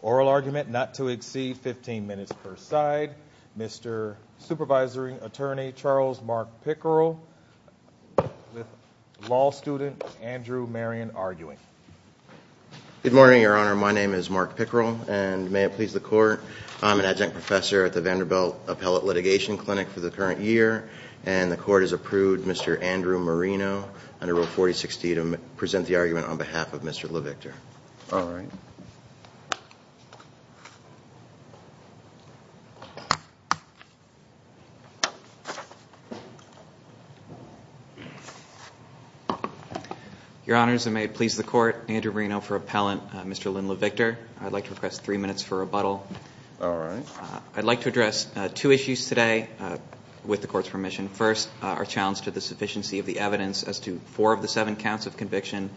Oral argument not to exceed 15 minutes per side. Mr. Supervisory Attorney Charles Mark Pickerel with law student Andrew Marion Arguing. Good morning, Your Honor. My name is Mark Pickerel and may it please the court, I'm an adjunct professor at the Vanderbilt Appellate Litigation Clinic for the current year and the court has approved Mr. Andrew Marino under rule 4060 to present the argument on behalf of Mr. LaVictor. All right. Your Honor, may it please the court, Andrew Marino for appellant, Mr. Lynn LaVictor. I'd like to request three minutes for rebuttal. All right. I'd like to address two issues today with the court's permission. First, our challenge to the sufficiency of the evidence as to four of the seven counts of conviction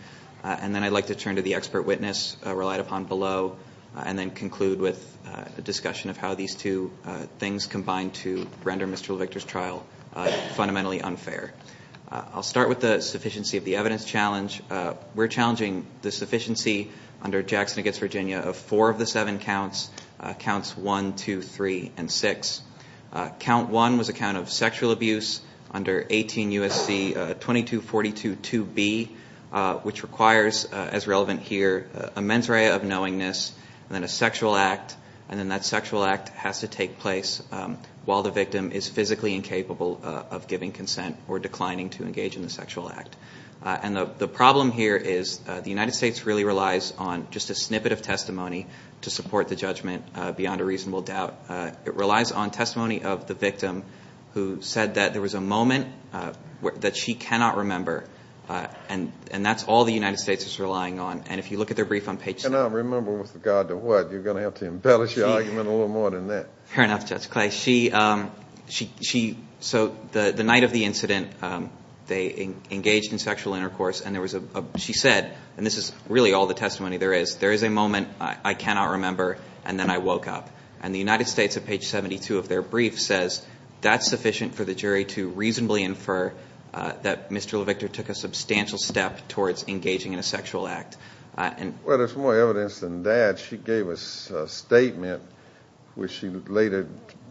and then I'd like to turn to the expert witness relied upon below and then conclude with a discussion of how these two things combine to render Mr. LaVictor's trial fundamentally unfair. I'll start with the sufficiency of the evidence challenge. We're challenging the sufficiency under Jackson v. Virginia of four of the seven counts, counts one, two, three, and six. Count one was a count of sexual abuse under 18 U.S.C. 2242-2B, which requires, as relevant here, a mens rea of knowingness and then a sexual act and then that sexual act has to take place while the victim is physically incapable of giving consent or declining to engage in the sexual act. The problem here is the United States really relies on just a snippet of testimony to support the judgment beyond a reasonable doubt. It relies on testimony of the victim who said that there was a moment that she cannot remember and that's all the United States is relying on. And if you look at their brief on page seven. And I'll remember with regard to what? You're right. She, so the night of the incident they engaged in sexual intercourse and there was a, she said, and this is really all the testimony there is, there is a moment I cannot remember and then I woke up. And the United States at page 72 of their brief says that's sufficient for the jury to reasonably infer that Mr. LaVictor took a substantial step towards engaging in a sexual act. Well, there's more evidence than that. She gave us a statement which she later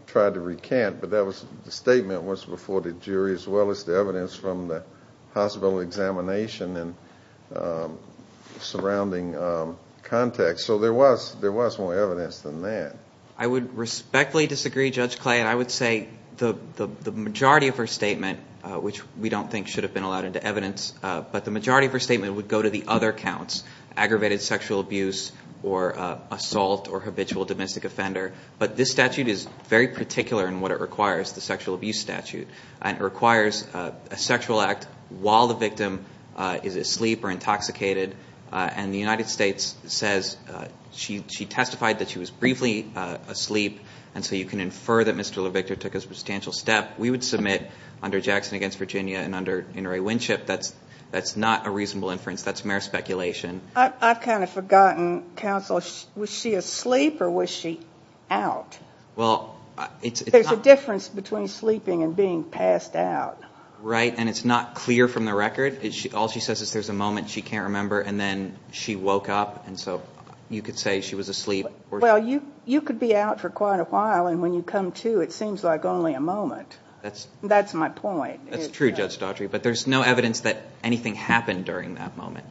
tried to recant, but that was the statement was before the jury as well as the evidence from the hospital examination and surrounding context. So there was, there was more evidence than that. I would respectfully disagree, Judge Clay, and I would say the majority of her statement, which we don't think should have been allowed into evidence, but the majority of her statement would go to the other counts, aggravated sexual abuse or assault or habitual domestic offender. But this statute is very particular in what it requires, the sexual abuse statute. And it requires a sexual act while the victim is asleep or intoxicated. And the United States says she, she testified that she was briefly asleep. And so you can infer that Mr. LaVictor took a substantial step. We would submit under Jackson against Virginia and under Inouye Winship, that's, that's not a reasonable inference. That's mere speculation. I've kind of forgotten, counsel, was she asleep or was she out? Well, it's, it's a difference between sleeping and being passed out. Right. And it's not clear from the record. All she says is there's a moment she can't remember and then she woke up. And so you could say she was asleep. Well, you, you could be out for quite a while. And when you come to, it seems like only a moment. That's, that's my point. That's true, Judge Daughtry. But there's no evidence that anything happened during that time.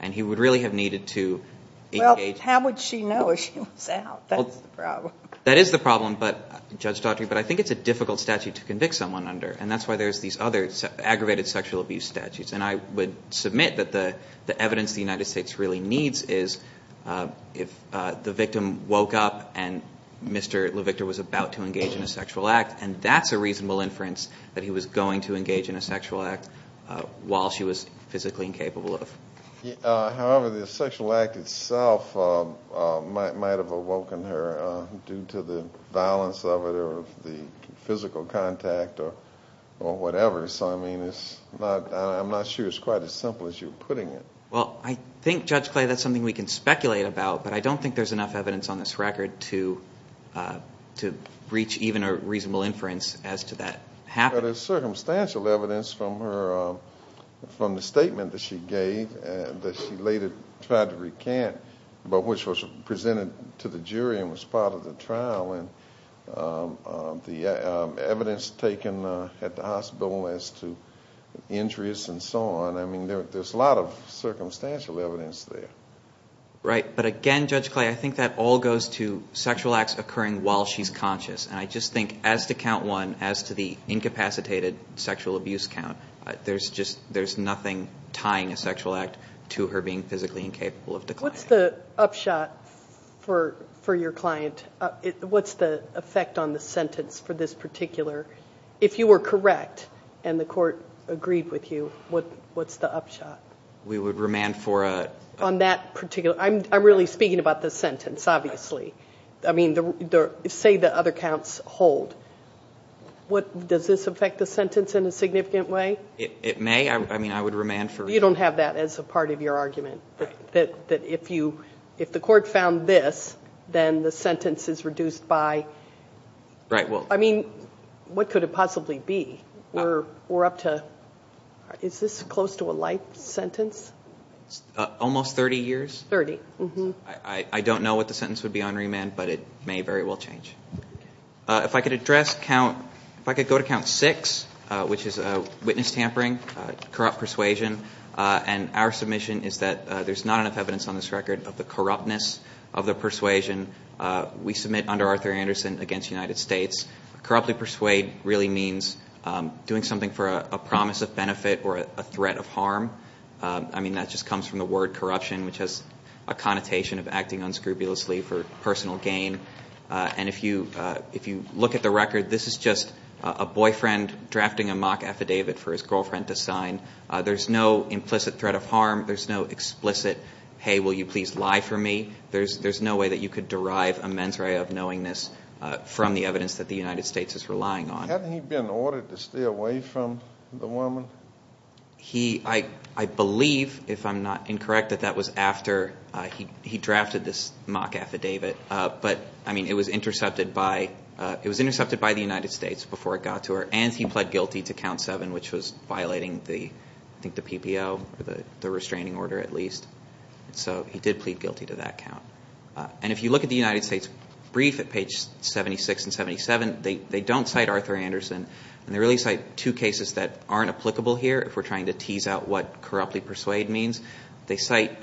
And he would really have needed to engage. Well, how would she know if she was out? That's the problem. That is the problem, but Judge Daughtry, but I think it's a difficult statute to convict someone under. And that's why there's these other aggravated sexual abuse statutes. And I would submit that the, the evidence the United States really needs is if the victim woke up and Mr. LaVictor was about to engage in a sexual act, and that's a reasonable inference that he was going to engage in a sexual act while she was physically incapable of. However, the sexual act itself might, might have awoken her due to the violence of it or the physical contact or, or whatever. So, I mean, it's not, I'm not sure it's quite as simple as you're putting it. Well, I think, Judge Clay, that's something we can speculate about, but I don't think there's enough evidence on this circumstantial evidence from her, from the statement that she gave, that she later tried to recant, but which was presented to the jury and was part of the trial. And the evidence taken at the hospital as to injuries and so on. I mean, there, there's a lot of circumstantial evidence there. Right. But again, Judge Clay, I think that all goes to sexual acts occurring while she's conscious. And I just think as to count one, as to the incapacitated sexual abuse count, there's just, there's nothing tying a sexual act to her being physically incapable of declining. What's the upshot for, for your client? What's the effect on the sentence for this particular, if you were correct and the court agreed with you, what, what's the upshot? We would remand for a. On that particular, I'm, I'm really speaking about the sentence, obviously. I mean, the, the, say the other counts hold. What, does this affect the sentence in a significant way? It, it may. I mean, I would remand for. You don't have that as a part of your argument. That, that if you, if the court found this, then the sentence is reduced by. Right, well. I mean, what could it possibly be? We're, we're up to, is this close to a life sentence? Almost 30 years. 30. I, I don't know what the If I could go to count six, which is witness tampering, corrupt persuasion. And our submission is that there's not enough evidence on this record of the corruptness of the persuasion. We submit under Arthur Anderson against United States. Corruptly persuade really means doing something for a promise of benefit or a threat of harm. I mean, that just comes from the record. This is just a boyfriend drafting a mock affidavit for his girlfriend to sign. There's no implicit threat of harm. There's no explicit, hey, will you please lie for me? There's, there's no way that you could derive a mens rea of knowing this from the evidence that the United States is relying on. Hadn't he been ordered to stay away from the woman? He, I, I believe if I'm not incorrect, that that was after he, he drafted this mock affidavit. But I mean, it was intercepted by, it was intercepted by the United States before it got to her. And he pled guilty to count seven, which was violating the, I think the PPO or the restraining order at least. So he did plead guilty to that count. And if you look at the United States brief at page 76 and 77, they, they don't cite Arthur Anderson. And they really cite two cases that aren't applicable here if we're trying to tease out what corruptly persuade means. They cite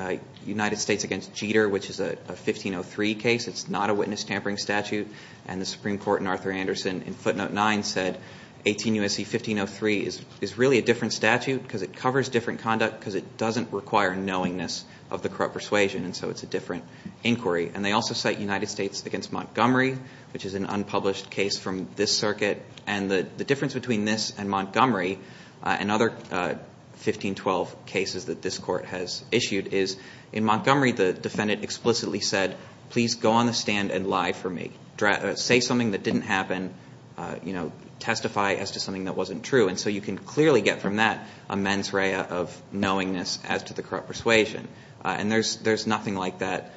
United States against Jeter, which is a 1503 case. It's not a witness tampering statute. And the author, Arthur Anderson, in footnote nine said, 18 U.S.C. 1503 is, is really a different statute because it covers different conduct because it doesn't require knowingness of the corrupt persuasion. And so it's a different inquiry. And they also cite United States against Montgomery, which is an unpublished case from this circuit. And the, the difference between this and Montgomery and other 1512 cases that this court has issued is in Montgomery the defendant explicitly said, please go on the stand and lie for me. Say something that didn't happen. You know, testify as to something that wasn't true. And so you can clearly get from that a mens rea of knowingness as to the corrupt persuasion. And there's, there's nothing like that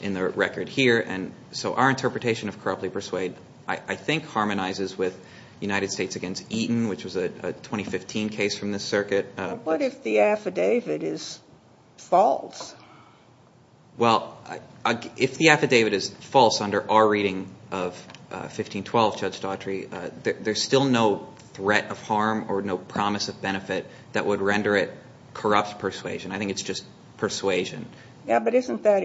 in the record here. And so our interpretation of corruptly persuade I, I think harmonizes with United States against Eaton, which was a 2015 case from this circuit. What if the affidavit is false? Well, if the affidavit is false under our reading of 1512, Judge Daughtry, there's still no threat of harm or no promise of benefit that would render it corrupt persuasion. I think it's just persuasion. Yeah, but isn't that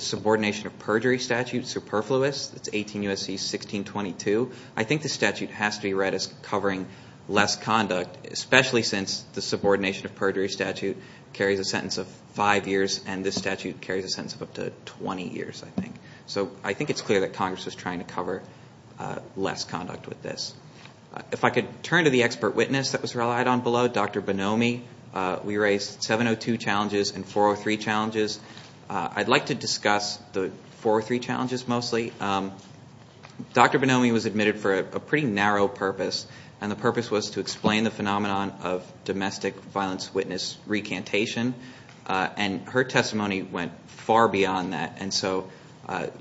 subordination of perjury statute superfluous? It's 18 U.S.C. 1622. I think the statute has to be read as covering less conduct, especially since the subordination of perjury statute carries a sentence of five years and this statute carries a sentence of up to 20 years, I think. So I think it's clear that Congress was trying to cover less conduct with this. If I could turn to the expert witness that was relied on below, Dr. Bonomi, we raised 702 challenges and 403 challenges mostly. Dr. Bonomi was admitted for a pretty narrow purpose and the purpose was to explain the phenomenon of domestic violence witness recantation. And her testimony went far beyond that. And so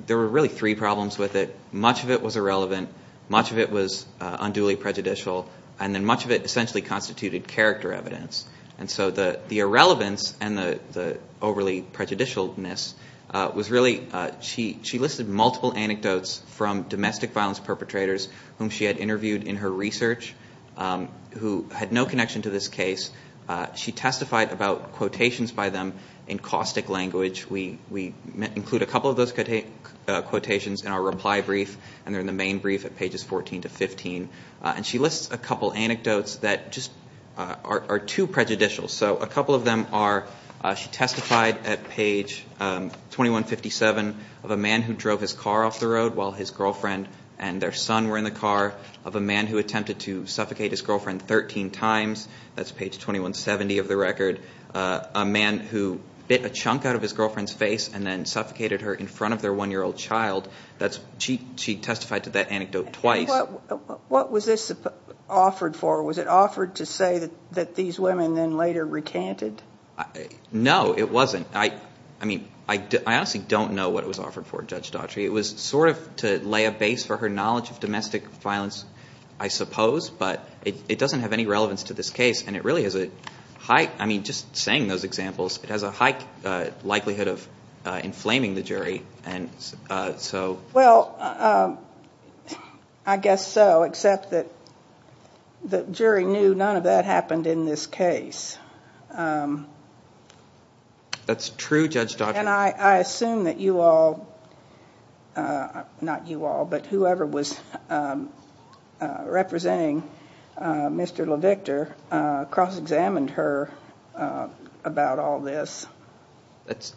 there were really three problems with it. Much of it was irrelevant. Much of it was unduly prejudicial. And then much of it essentially constituted character evidence. And so the irrelevance and the overly prejudicialness was really, she listed multiple anecdotes from domestic violence perpetrators whom she had interviewed in her research who had no connection to this case. She testified about quotations by them in that just are too prejudicial. So a couple of them are she testified at page 2157 of a man who drove his car off the road while his girlfriend and their son were in the car, of a man who attempted to suffocate his girlfriend 13 times, that's page 2170 of the record, a man who bit a chunk out of his girlfriend's face and then suffocated her in front of their one-year-old child. She testified to that anecdote twice. What was this offered for? Was it offered to say that these women then later recanted? No, it wasn't. I honestly don't know what it was offered for, Judge Daughtry. It was sort of to lay a base for her knowledge of domestic violence, I suppose, but it doesn't have any relevance to this case. And it really has a high, I mean, just saying those examples, it has a high likelihood of inflaming the jury. Well, I guess so, except that the jury knew none of that happened in this case. That's true, Judge Daughtry. And I assume that you all, not you all, but whoever was representing Mr. LeVictor cross-examined her about all this. That's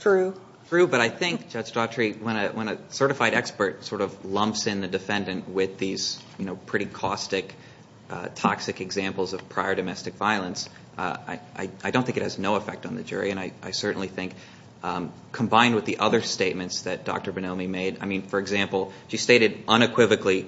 true. True, but I think, Judge Daughtry, when a certified expert sort of lumps in the defendant with these pretty caustic, toxic examples of prior domestic violence, I don't think it has no effect on the jury, and I certainly think, combined with the other statements that Dr. Bonomi made, I mean, for example, she stated unequivocally,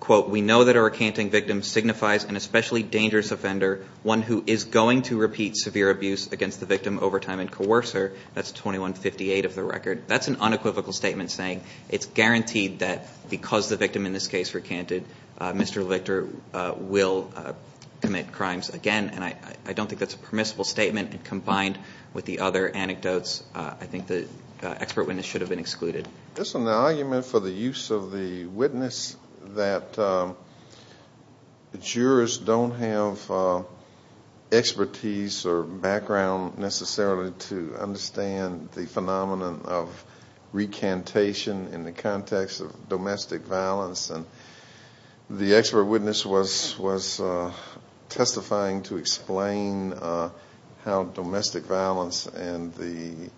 quote, We know that our recanting victim signifies an especially dangerous offender, one who is going to repeat severe abuse against the victim over time and coerce her. That's 2158 of the record. That's an unequivocal statement saying it's guaranteed that because the victim in this case recanted, Mr. LeVictor will commit crimes again, and I don't think that's a permissible statement, and combined with the other anecdotes, I think the expert witness should have been excluded. Just on the argument for the use of the witness that the jurors don't have expertise or background necessarily to understand the phenomenon of recantation in the context of domestic violence, the expert witness was testifying to explain how domestic violence and the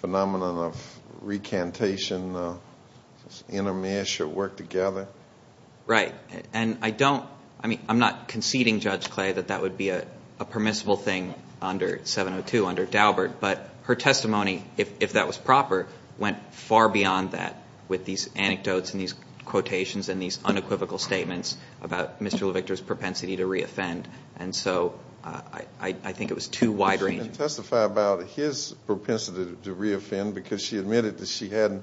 phenomenon of recantation intermesh or work together. Right, and I don't, I mean, I'm not conceding, Judge Clay, that that would be a permissible thing under 702, under Daubert, but her testimony, if that was proper, went far beyond that with these anecdotes and these quotations and these unequivocal statements about Mr. LeVictor's propensity to reoffend, and so I think it was too wide-ranging. She didn't testify about his propensity to reoffend because she admitted that she hadn't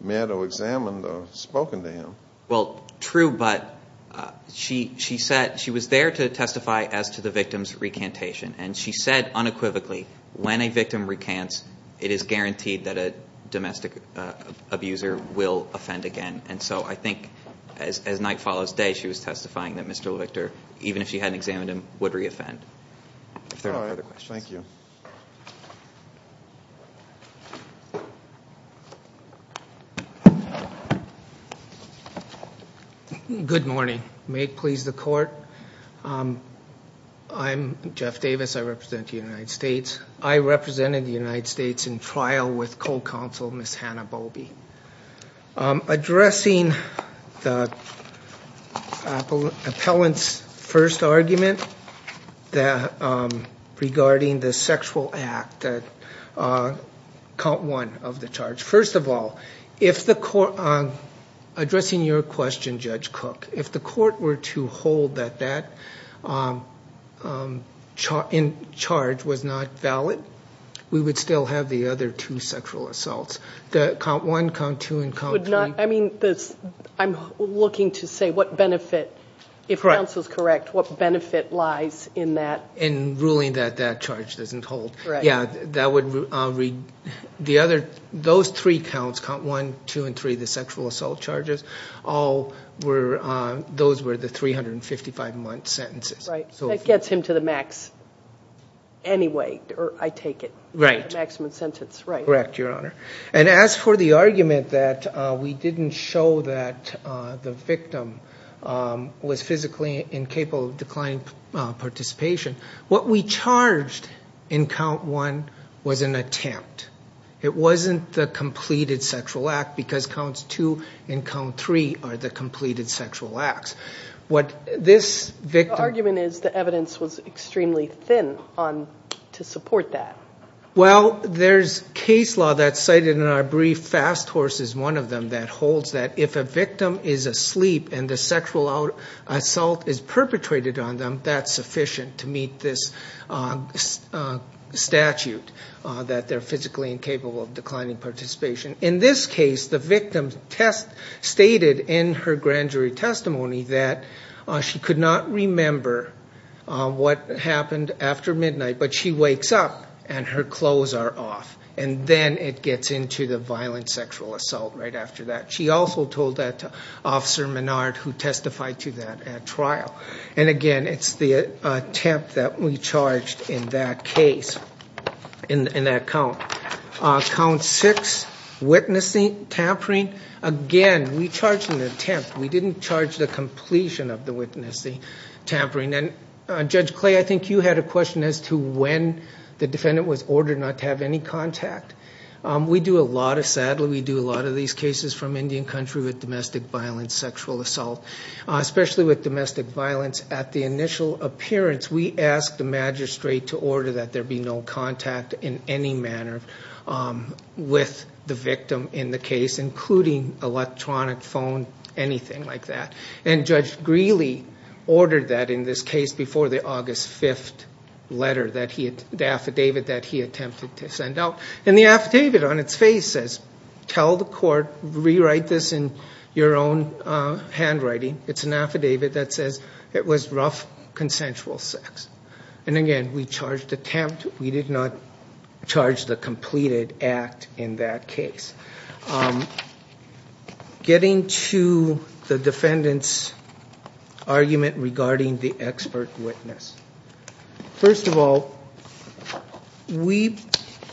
met or examined or spoken to him. Well, true, but she said she was there to testify as to the victim's recantation, and she said unequivocally when a victim recants, it is guaranteed that a domestic abuser will offend again, and so I think as night follows day, she was testifying that Mr. LeVictor, even if she hadn't examined him, would reoffend. If there are no other questions. Thank you. Good morning. May it please the Court. I'm Jeff Davis. I represent the United States. I represented the United States in trial with co-counsel, Ms. Hannah Bowlby. Addressing the appellant's first argument regarding the sexual act, count one of the charge. First of all, addressing your question, Judge Cook, if the court were to hold that that in charge was not valid, we would still have the other two sexual assaults. Count one, count two, and count three. I'm looking to say what benefit, if counsel's correct, what benefit lies in that? In ruling that that charge doesn't hold. Correct. Those three counts, count one, two, and three, the sexual assault charges, those were the 355-month sentences. Right. That gets him to the max anyway, or I take it. Right. Maximum sentence, right. Correct, Your Honor. And as for the argument that we didn't show that the victim was physically incapable of declining participation, what we charged in count one was an attempt. It wasn't the completed sexual act because counts two and count three are the completed sexual acts. What this victim... The argument is the evidence was extremely thin to support that. Well, there's case law that's cited in our brief, Fast Horse is one of them, that holds that if a victim is asleep and the sexual assault is perpetrated on them, that's sufficient to meet this statute that they're physically incapable of declining participation. In this case, the victim stated in her grand jury testimony that she could not remember what happened after midnight, but she wakes up and her clothes are off, and then it gets into the violent sexual assault right after that. She also told that to Officer Menard, who testified to that at trial. And again, it's the attempt that we charged in that case, in that count. Count six, witnessing, tampering, again, we charged an attempt. We didn't charge the completion of the witnessing, tampering. And Judge Clay, I think you had a question as to when the defendant was ordered not to have any contact. We do a lot of, sadly, we do a lot of these cases from Indian country with domestic violence, sexual assault, especially with domestic violence. At the initial appearance, we asked the magistrate to order that there be no contact in any manner with the victim in the case, including electronic, phone, anything like that. And Judge Greeley ordered that in this case before the August 5th letter, the affidavit that he attempted to send out. And the affidavit on its face says, tell the court, rewrite this in your own handwriting. It's an affidavit that says it was rough, consensual sex. And again, we charged attempt. We did not charge the completed act in that case. Getting to the defendant's argument regarding the expert witness. First of all, we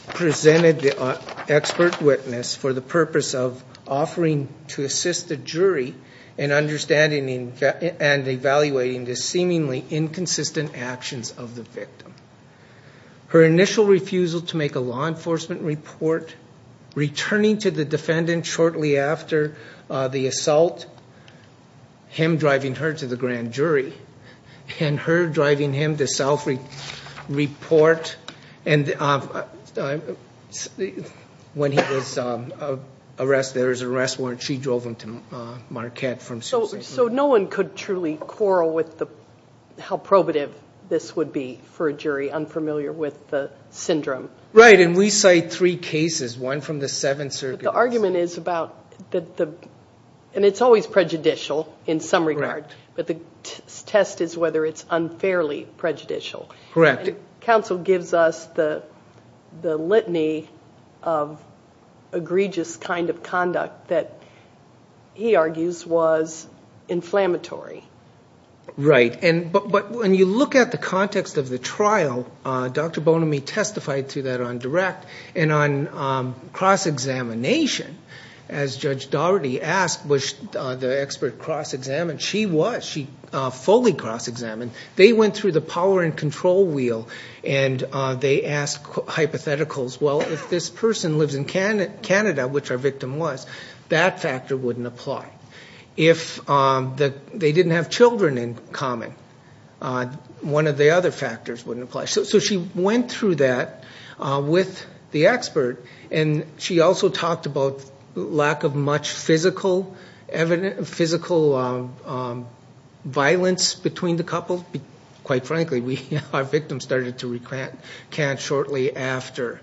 presented the expert witness for the purpose of offering to assist the jury in understanding and evaluating the seemingly inconsistent actions of the victim. Her initial refusal to make a law enforcement report, returning to the defendant shortly after the assault, him driving her to the grand jury, and her driving him to self-report. And when he was arrested, there was an arrest warrant. She drove him to Marquette. So no one could truly quarrel with how probative this would be for a jury unfamiliar with the syndrome. Right, and we cite three cases, one from the Seventh Circuit. But the argument is about the – and it's always prejudicial in some regard. Correct. But the test is whether it's unfairly prejudicial. Correct. And counsel gives us the litany of egregious kind of conduct that he argues was inflammatory. Right. But when you look at the context of the trial, Dr. Bonomi testified to that on direct. And on cross-examination, as Judge Dougherty asked, was the expert cross-examined? She was. She fully cross-examined. They went through the power and control wheel, and they asked hypotheticals. Well, if this person lives in Canada, which our victim was, that factor wouldn't apply. If they didn't have children in common, one of the other factors wouldn't apply. So she went through that with the expert, and she also talked about lack of much physical violence between the couple. Quite frankly, our victim started to recant shortly after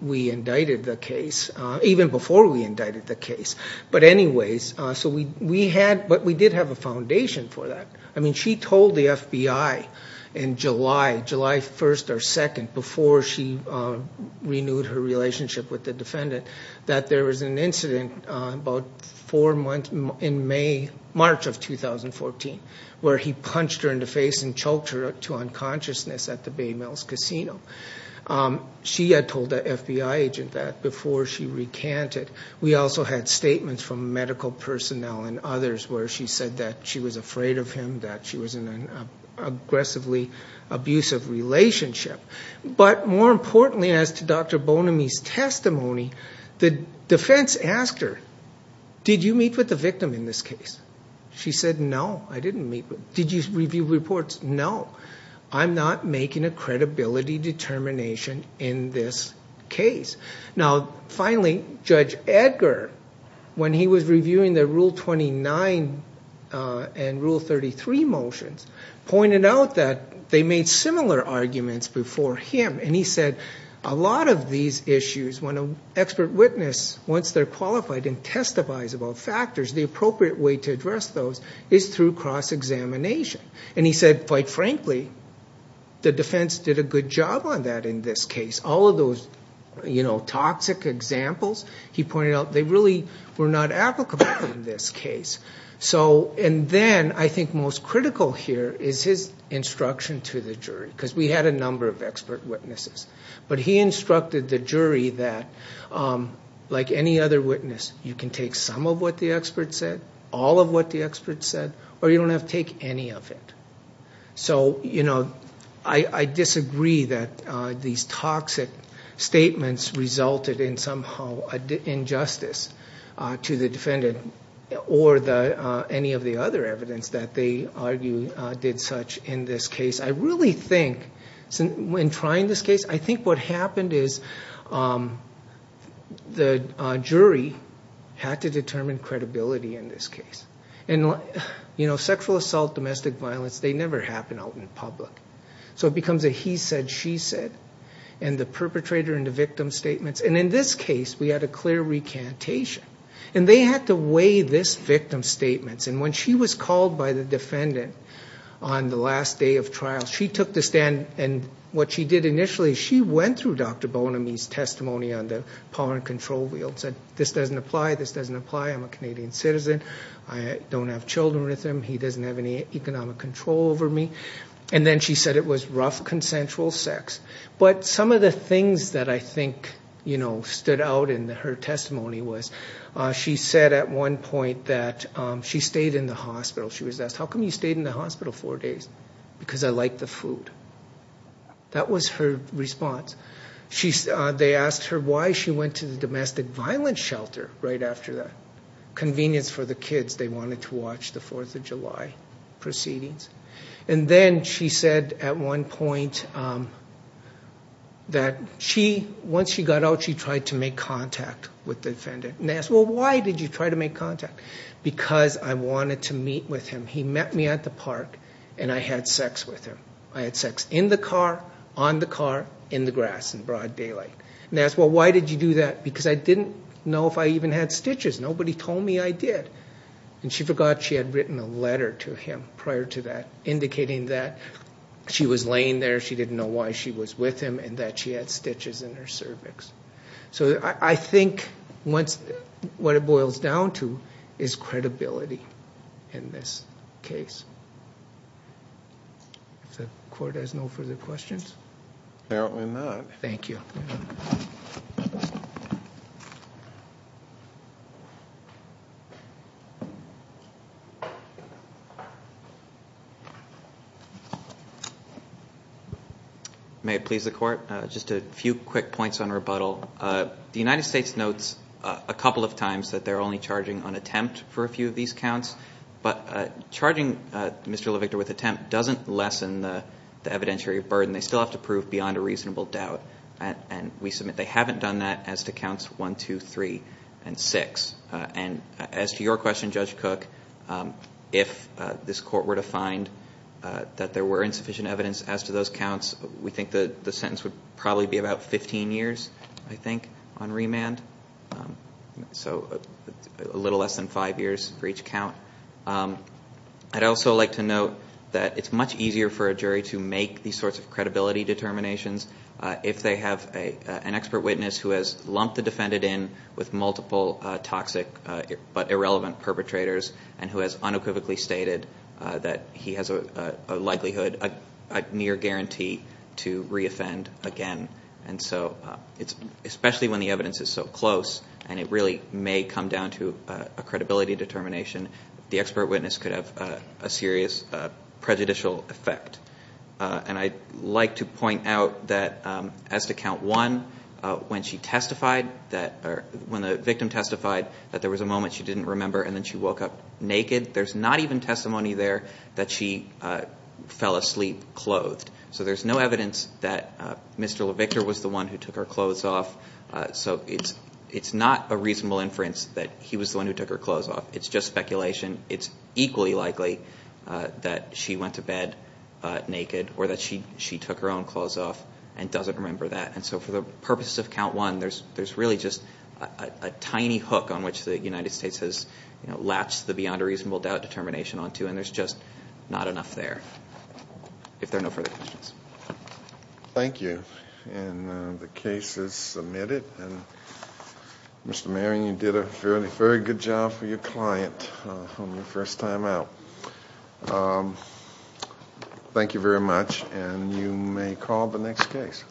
we indicted the case, even before we indicted the case. But anyways, we did have a foundation for that. I mean, she told the FBI in July, July 1st or 2nd, before she renewed her relationship with the defendant, that there was an incident about four months in March of 2014 where he punched her in the face and choked her to unconsciousness at the Bay Mills Casino. She had told the FBI agent that before she recanted. We also had statements from medical personnel and others where she said that she was afraid of him, that she was in an aggressively abusive relationship. But more importantly, as to Dr. Bonamy's testimony, the defense asked her, did you meet with the victim in this case? She said, no, I didn't meet with him. Did you review reports? No, I'm not making a credibility determination in this case. Now, finally, Judge Edgar, when he was reviewing the Rule 29 and Rule 33 motions, pointed out that they made similar arguments before him. And he said, a lot of these issues, when an expert witness, once they're qualified and testifies about factors, the appropriate way to address those is through cross-examination. And he said, quite frankly, the defense did a good job on that in this case. All of those toxic examples, he pointed out, they really were not applicable in this case. And then I think most critical here is his instruction to the jury, because we had a number of expert witnesses. But he instructed the jury that, like any other witness, you can take some of what the expert said, all of what the expert said, or you don't have to take any of it. So, you know, I disagree that these toxic statements resulted in somehow injustice to the defendant, or any of the other evidence that they argue did such in this case. I really think, in trying this case, I think what happened is the jury had to determine credibility in this case. And, you know, sexual assault, domestic violence, they never happen out in public. So it becomes a he said, she said. And the perpetrator and the victim statements. And in this case, we had a clear recantation. And they had to weigh this victim's statements. And when she was called by the defendant on the last day of trial, she took the stand. And what she did initially, she went through Dr. Bonamy's testimony on the power and control wheel, and said, this doesn't apply, this doesn't apply, I'm a Canadian citizen, I don't have children with him, he doesn't have any economic control over me. And then she said it was rough, consensual sex. But some of the things that I think, you know, stood out in her testimony was, she said at one point that she stayed in the hospital. She was asked, how come you stayed in the hospital four days? Because I like the food. That was her response. They asked her why she went to the domestic violence shelter right after that. Convenience for the kids, they wanted to watch the Fourth of July proceedings. And then she said at one point that once she got out, she tried to make contact with the defendant. And they asked, well, why did you try to make contact? Because I wanted to meet with him. He met me at the park, and I had sex with him. I had sex in the car, on the car, in the grass in broad daylight. And they asked, well, why did you do that? Because I didn't know if I even had stitches. Nobody told me I did. And she forgot she had written a letter to him prior to that, indicating that she was laying there, she didn't know why she was with him, and that she had stitches in her cervix. So I think what it boils down to is credibility in this case. If the Court has no further questions. Apparently not. Thank you. May it please the Court? Just a few quick points on rebuttal. The United States notes a couple of times that they're only charging on attempt for a few of these counts. But charging Mr. LeVictor with attempt doesn't lessen the evidentiary burden. They still have to prove beyond a reasonable doubt. And we submit they haven't done that as to counts 1, 2, 3, and 6. And as to your question, Judge Cook, if this Court were to find that there were insufficient evidence as to those counts, we think the sentence would probably be about 15 years, I think, on remand. So a little less than five years for each count. I'd also like to note that it's much easier for a jury to make these sorts of credibility determinations if they have an expert witness who has lumped the defendant in with multiple toxic but irrelevant perpetrators and who has unequivocally stated that he has a likelihood, a near guarantee, to reoffend again. And so especially when the evidence is so close and it really may come down to a credibility determination, the expert witness could have a serious prejudicial effect. And I'd like to point out that as to count 1, when the victim testified that there was a moment she didn't remember and then she woke up naked, there's not even testimony there that she fell asleep clothed. So there's no evidence that Mr. Levickter was the one who took her clothes off. So it's not a reasonable inference that he was the one who took her clothes off. It's just speculation. It's equally likely that she went to bed naked or that she took her own clothes off and doesn't remember that. And so for the purpose of count 1, there's really just a tiny hook on which the United States has latched the beyond a reasonable doubt determination onto and there's just not enough there, if there are no further questions. Thank you. And the case is submitted. Mr. Marion, you did a very, very good job for your client on your first time out. Thank you very much, and you may call the next case.